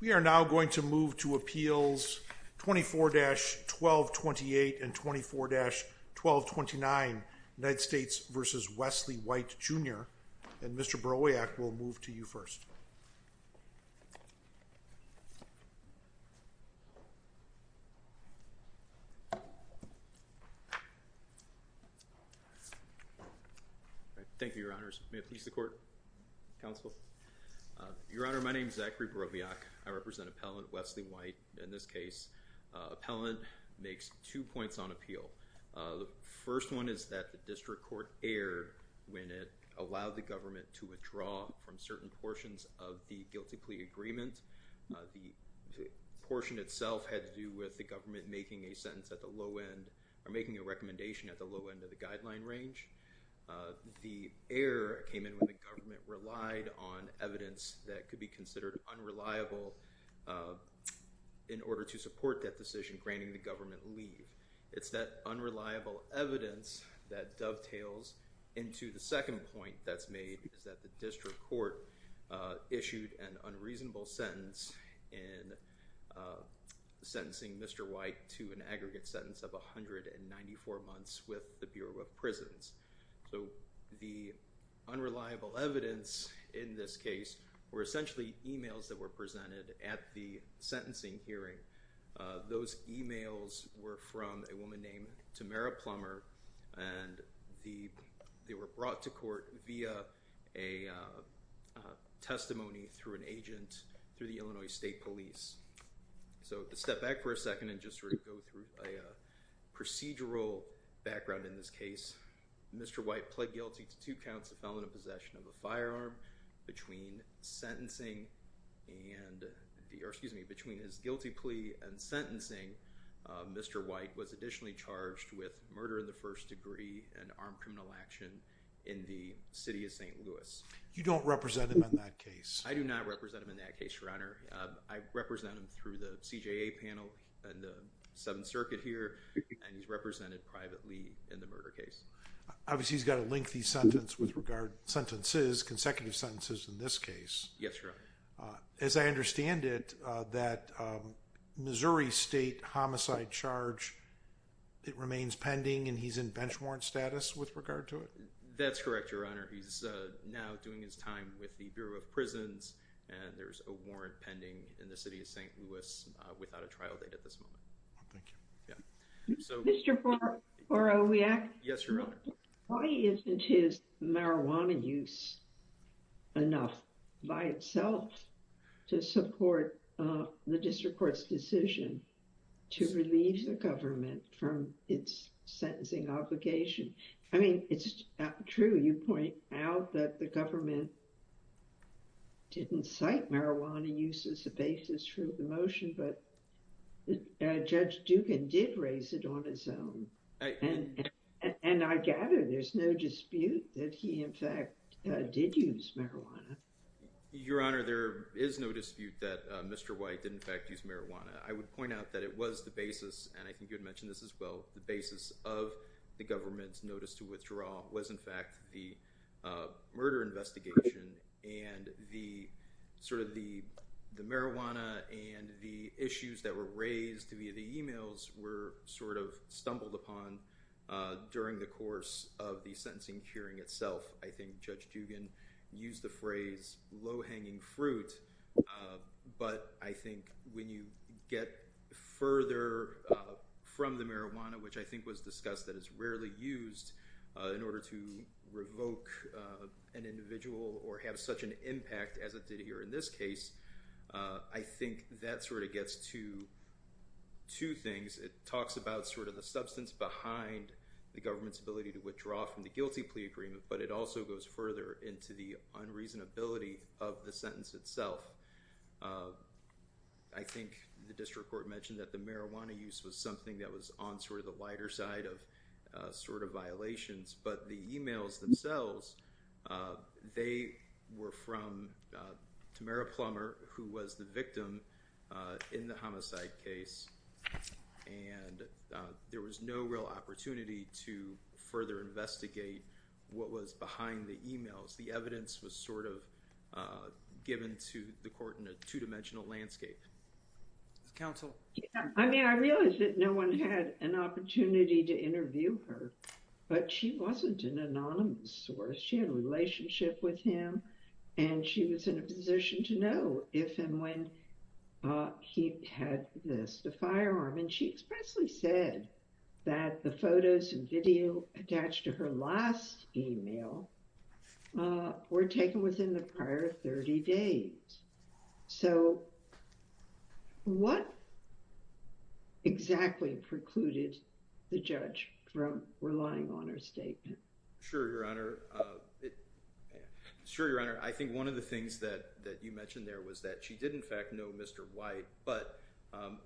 We are now going to move to appeals 24-1228 and 24-1229, United States v. Wesley White, Jr. And Mr. Broviac will move to you first. Thank you, Your Honors. May it please the Court, Counsel? Your Honor, my name is Zachary Broviac. I represent Appellant Wesley White. In this case, Appellant makes two points on appeal. The first one is that the District Court erred when it allowed the government to withdraw from certain portions of the guilty plea agreement. The portion itself had to do with the government making a sentence at the low end or making a recommendation at the low end of the guideline range. The error came in when the government relied on evidence that could be considered unreliable in order to support that decision, granting the government leave. It's that unreliable evidence that dovetails into the second point that's made, is that the District Court issued an unreasonable sentence in sentencing Mr. White to an aggregate sentence of 194 months with the Bureau of Prisons. So the unreliable evidence in this case were essentially emails that were presented at the sentencing hearing. Those emails were from a woman named Tamara Plummer and they were brought to court via a testimony through an agent through the Illinois State Police. So to step back for a second and just sort of go through a procedural background in this case, Mr. White pled guilty to two counts of felony possession of a firearm between sentencing and the, or excuse me, between his guilty plea and sentencing, Mr. White was additionally charged with murder in the first degree and armed criminal action in the City of St. Louis. You don't represent him in that case? I do not represent him in that case, Your Honor. I represent him through the CJA panel and the Seventh Circuit here and he's represented privately in the murder case. Obviously he's got a lengthy sentence with regard, sentences, consecutive sentences in this case. Yes, Your Honor. As I understand it, that Missouri State homicide charge, it remains pending and he's in bench warrant status with regard to it? That's correct, Your Honor. He's now doing his time with the Bureau of Prisons and there's a warrant pending in the City of St. Louis without a trial date at this moment. Thank you. Yeah. So. Mr. Borowiak. Yes, Your Honor. Why isn't his marijuana use enough by itself to support the District Court's decision to relieve the government from its sentencing obligation? I mean, it's true you point out that the government didn't cite marijuana use as a basis for the motion, but Judge Dugan did raise it on his own. And I gather there's no dispute that he, in fact, did use marijuana. Your Honor, there is no dispute that Mr. White did, in fact, use marijuana. I would point out that it was the basis, and I think you had mentioned this as well, the basis of the government's notice to withdraw was, in fact, the murder investigation and the sort of the marijuana and the issues that were raised via the emails were sort of stumbled upon during the course of the sentencing hearing itself. I think Judge Dugan used the phrase, low-hanging fruit. But I think when you get further from the marijuana, which I think was discussed that it was rarely used in order to revoke an individual or have such an impact as it did here in this case, I think that sort of gets to two things. It talks about sort of the substance behind the government's ability to withdraw from the guilty plea agreement, but it also goes further into the unreasonability of the sentence itself. I think the District Court mentioned that the marijuana use was something that was on sort of the lighter side of sort of violations, but the emails themselves, they were from Tamara Plummer, who was the victim in the homicide case, and there was no real opportunity to further investigate what was behind the emails. The evidence was sort of given to the court in a two-dimensional landscape. Counsel? I mean, I realize that no one had an opportunity to interview her, but she wasn't an anonymous source. She had a relationship with him, and she was in a position to know if and when he had missed a firearm. And she expressly said that the photos and video attached to her last email were taken within the prior 30 days. So what exactly precluded the judge from relying on her statement? Sure, Your Honor. I think one of the things that you mentioned there was that she did in fact know Mr. White, but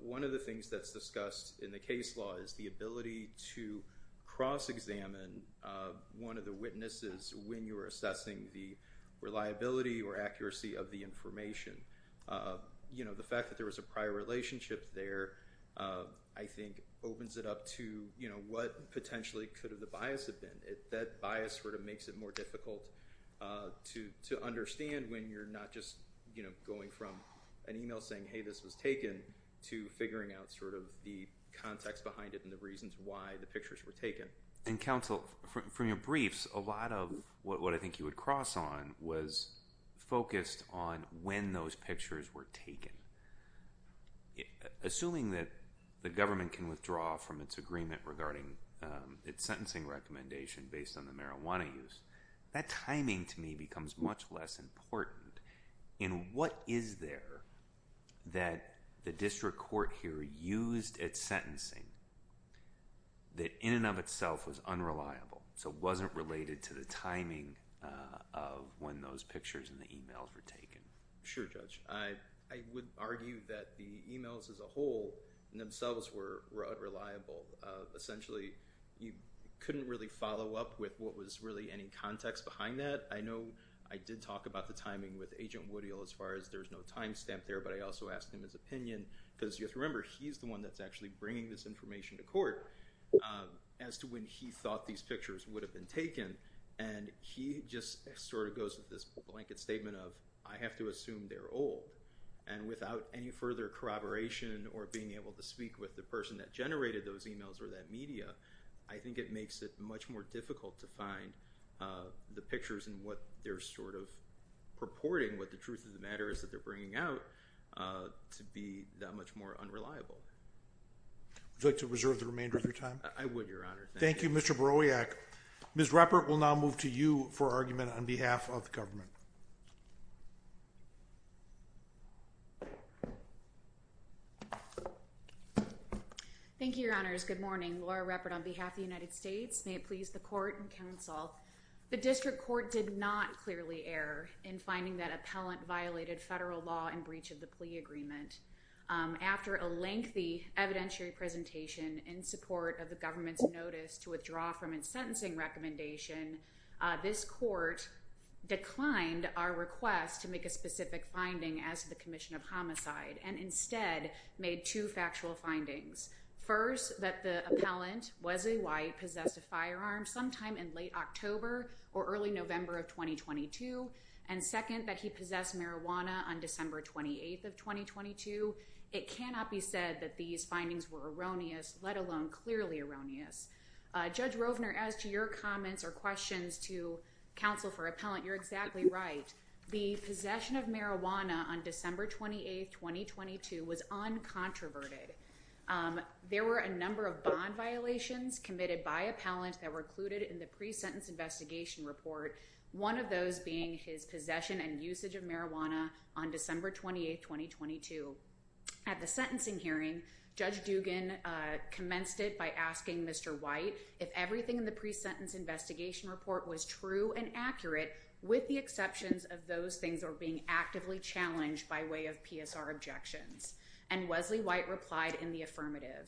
one of the things that's discussed in the case law is the ability to cross-examine one of the witnesses when you're assessing the reliability or accuracy of the information. You know, the fact that there was a prior relationship there, I think, opens it up to what potentially could have the bias have been. That bias sort of makes it more difficult to understand when you're not just going from an email saying, hey, this was taken, to figuring out sort of the context behind it and the reasons why the pictures were taken. And Counsel, from your briefs, a lot of what I think you would cross on was focused on when those pictures were taken. Assuming that the government can withdraw from its agreement regarding its sentencing recommendation based on the marijuana use, that timing to me becomes much less important. And what is there that the district court here used at sentencing that in and of itself was unreliable, so wasn't related to the timing of when those pictures and the emails were taken? Sure, Judge. I would argue that the emails as a whole themselves were unreliable. Essentially, you couldn't really follow up with what was really any context behind that. I know I did talk about the timing with Agent Woodhill as far as there's no timestamp there, but I also asked him his opinion, because you have to remember, he's the one that's actually bringing this information to court as to when he thought these pictures would have been taken. And he just sort of goes with this blanket statement of, I have to assume they're old. And without any further corroboration or being able to speak with the person that generated those emails or that media, I think it makes it much more difficult to find the pictures and what they're sort of purporting, what the truth of the matter is that they're bringing out to be that much more unreliable. Would you like to reserve the remainder of your time? I would, Your Honor. Thank you. Thank you, Mr. Borowiak. Ms. Ruppert will now move to you for argument on behalf of the government. Thank you, Your Honors. Good morning. Laura Ruppert on behalf of the United States. May it please the court and counsel. The district court did not clearly err in finding that appellant violated federal law and breach of the plea agreement. After a lengthy evidentiary presentation in support of the government's notice to withdraw from its sentencing recommendation, this court declined our request to make a specific finding as to the commission of homicide and instead made two factual findings. First, that the appellant, Wesley White, possessed a firearm sometime in late October or early November of 2022, and second, that he possessed marijuana on December 28th of 2022. It cannot be said that these findings were erroneous, let alone clearly erroneous. Judge Rovner, as to your comments or questions to counsel for appellant, you're exactly right. The possession of marijuana on December 28th, 2022, was uncontroverted. There were a number of bond violations committed by appellant that were included in the pre-sentence investigation report, one of those being his possession and usage of marijuana on December 28th, 2022. At the sentencing hearing, Judge Dugan commenced it by asking Mr. White if everything in the of those things are being actively challenged by way of PSR objections. And Wesley White replied in the affirmative.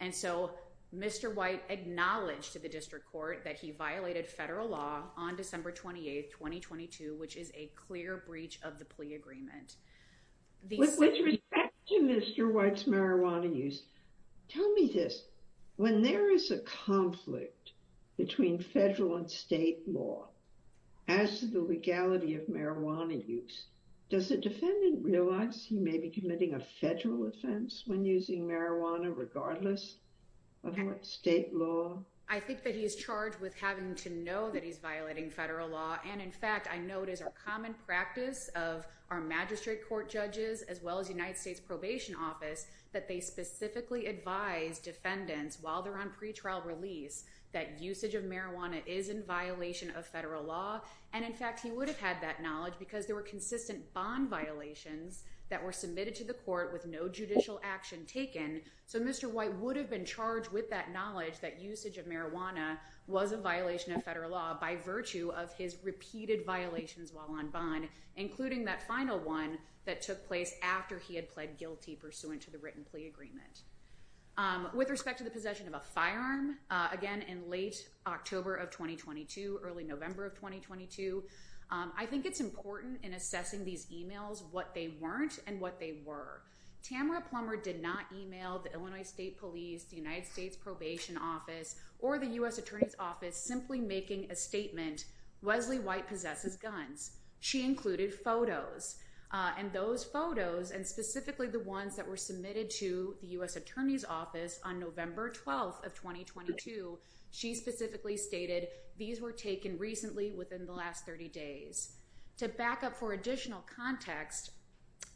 And so, Mr. White acknowledged to the district court that he violated federal law on December 28th, 2022, which is a clear breach of the plea agreement. With respect to Mr. White's marijuana use, tell me this, when there is a conflict between federal and state law, as to the legality of marijuana use, does the defendant realize he may be committing a federal offense when using marijuana regardless of state law? I think that he is charged with having to know that he's violating federal law. And in fact, I know it is our common practice of our magistrate court judges, as well as United States Probation Office, that they specifically advise defendants while they're on pretrial release that usage of marijuana is in violation of federal law. And in fact, he would have had that knowledge because there were consistent bond violations that were submitted to the court with no judicial action taken. So Mr. White would have been charged with that knowledge that usage of marijuana was a violation of federal law by virtue of his repeated violations while on bond, including that final one that took place after he had pled guilty pursuant to the written plea agreement. With respect to the possession of a firearm, again, in late October of 2022, early November of 2022, I think it's important in assessing these emails what they weren't and what they were. Tamra Plummer did not email the Illinois State Police, the United States Probation Office, or the U.S. Attorney's Office simply making a statement, Wesley White possesses guns. She included photos, and those photos, and specifically the ones that were submitted to the U.S. Attorney's Office on November 12th of 2022, she specifically stated these were taken recently within the last 30 days. To back up for additional context,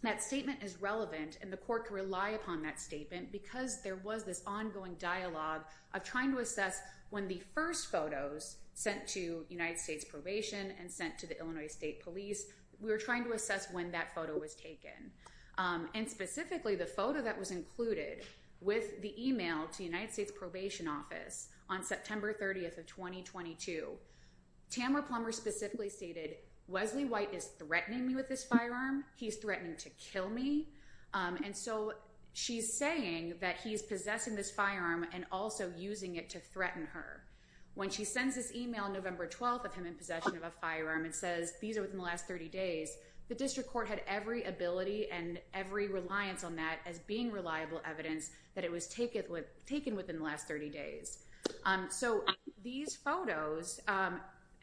that statement is relevant and the court can rely upon that statement because there was this ongoing dialogue of trying to assess when the first photos sent to United States Probation and sent to the Illinois State Police, we were trying to assess when that photo was taken. And specifically, the photo that was included with the email to United States Probation Office on September 30th of 2022, Tamra Plummer specifically stated, Wesley White is threatening me with this firearm. He's threatening to kill me. And so she's saying that he's possessing this firearm and also using it to threaten her. When she sends this email November 12th of him in possession of a firearm and says these were taken recently within the last 30 days, the district court had every ability and every reliance on that as being reliable evidence that it was taken within the last 30 days. So these photos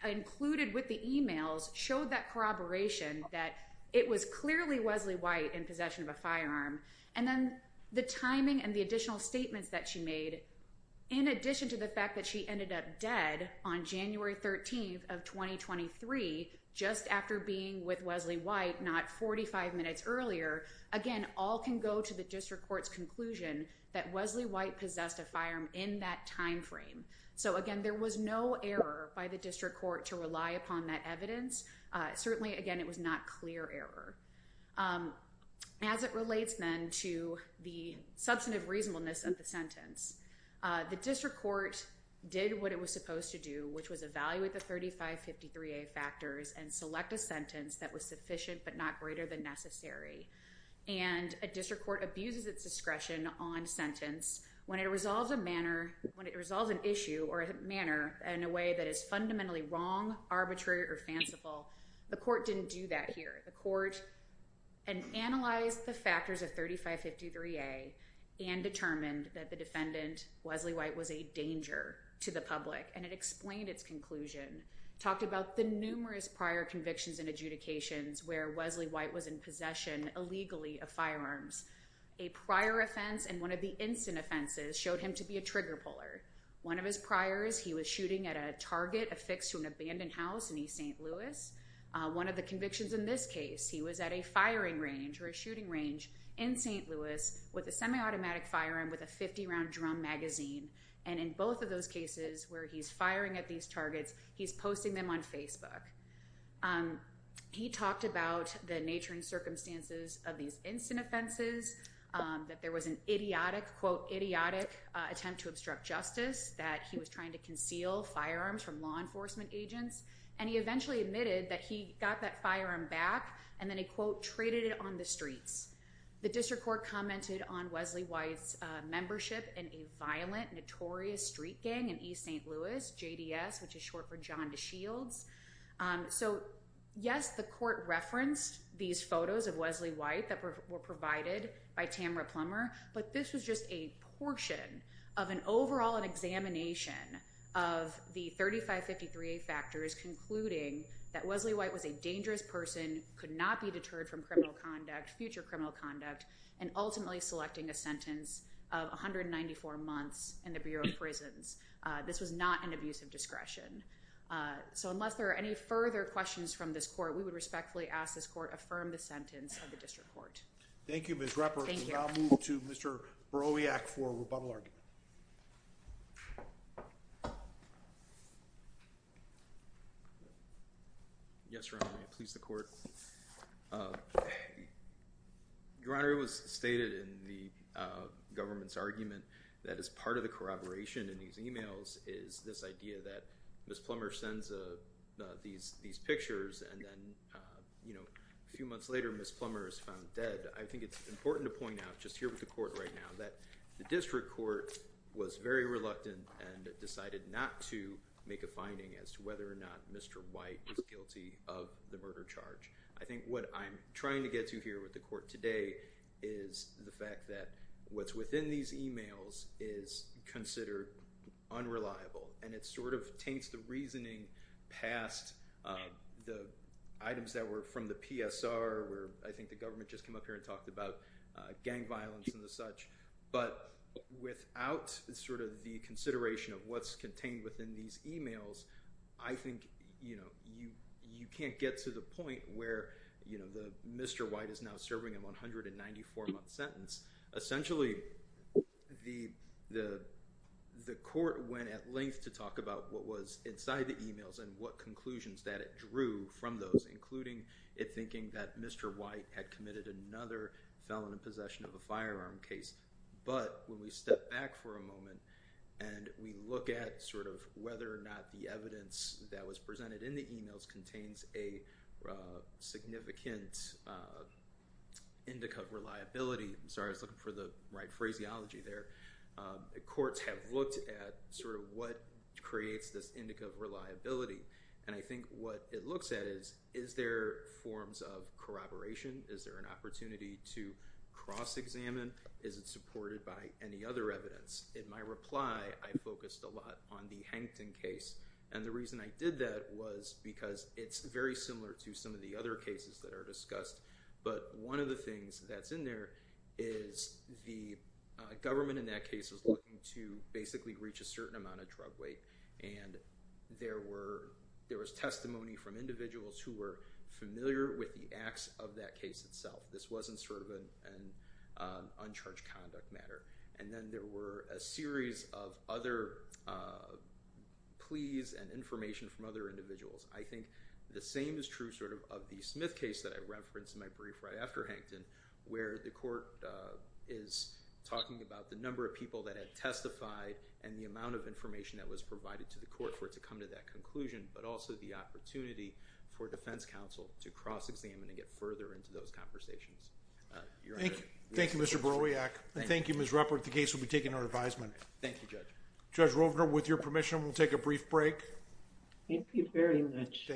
included with the emails showed that corroboration that it was clearly Wesley White in possession of a firearm. And then the timing and the additional statements that she made, in addition to the fact that she ended up dead on January 13th of 2023, just after being with Wesley White, not 45 minutes earlier. Again, all can go to the district court's conclusion that Wesley White possessed a firearm in that timeframe. So again, there was no error by the district court to rely upon that evidence. Certainly, again, it was not clear error. As it relates then to the substantive reasonableness of the sentence, the district court did what it was supposed to do, which was evaluate the 3553A factors and select a sentence that was sufficient but not greater than necessary. And a district court abuses its discretion on sentence when it resolves a manner, when it resolves an issue or a manner in a way that is fundamentally wrong, arbitrary, or fanciful. The court didn't do that here. The court analyzed the factors of 3553A and determined that the defendant, Wesley White, was a danger to the public. And it explained its conclusion, talked about the numerous prior convictions and adjudications where Wesley White was in possession, illegally, of firearms. A prior offense and one of the instant offenses showed him to be a trigger puller. One of his priors, he was shooting at a target affixed to an abandoned house in East St. Louis. One of the convictions in this case, he was at a firing range or a shooting range in St. Louis with a semi-automatic firearm with a 50-round drum magazine. And in both of those cases where he's firing at these targets, he's posting them on Facebook. He talked about the nature and circumstances of these instant offenses, that there was an idiotic, quote, idiotic attempt to obstruct justice, that he was trying to conceal firearms from law enforcement agents. And he eventually admitted that he got that firearm back and then he, quote, traded it on the streets. The district court commented on Wesley White's membership in a violent, notorious street gang in East St. Louis, JDS, which is short for John DeShields. So yes, the court referenced these photos of Wesley White that were provided by Tamara Plummer. But this was just a portion of an overall, an examination of the 3553A factors concluding that Wesley White was a dangerous person, could not be deterred from criminal conduct, future criminal conduct, and ultimately selecting a sentence of 194 months in the Bureau of This was not an abuse of discretion. So unless there are any further questions from this court, we would respectfully ask this court affirm the sentence of the district court. Thank you, Ms. Ruppert. Thank you. We'll now move to Mr. Borowiak for a rebuttal argument. Yes, Your Honor. Please, the court. Your Honor, it was stated in the government's argument that as part of the corroboration in these emails is this idea that Ms. Plummer sends these pictures and then, you know, a person is found dead. I think it's important to point out, just here with the court right now, that the district court was very reluctant and decided not to make a finding as to whether or not Mr. White is guilty of the murder charge. I think what I'm trying to get to here with the court today is the fact that what's within these emails is considered unreliable. And it sort of taints the reasoning past the items that were from the PSR where I think the government just came up here and talked about gang violence and the such. But without sort of the consideration of what's contained within these emails, I think, you know, you can't get to the point where, you know, Mr. White is now serving a 194-month sentence. Essentially, the court went at length to talk about what was inside the emails and what conclusions that it drew from those, including it thinking that Mr. White had committed another felon in possession of a firearm case. But when we step back for a moment and we look at sort of whether or not the evidence that was presented in the emails contains a significant indica of reliability, I'm sorry, I was looking for the right phraseology there, courts have looked at sort of what creates this indica of reliability. And I think what it looks at is, is there forms of corroboration? Is there an opportunity to cross-examine? Is it supported by any other evidence? In my reply, I focused a lot on the Hankton case. And the reason I did that was because it's very similar to some of the other cases that are discussed. But one of the things that's in there is the government in that case is looking to basically reach a certain amount of drug weight. And there was testimony from individuals who were familiar with the acts of that case itself. This wasn't sort of an uncharged conduct matter. And then there were a series of other pleas and information from other individuals. I think the same is true sort of of the Smith case that I referenced in my brief right after where the court is talking about the number of people that had testified and the amount of information that was provided to the court for it to come to that conclusion, but also the opportunity for defense counsel to cross-examine and get further into those conversations. Thank you, Mr. Borowiak. Thank you, Ms. Ruppert. The case will be taken to our advisement. Thank you, Judge. Judge Rovner, with your permission, we'll take a brief break. Thank you very much.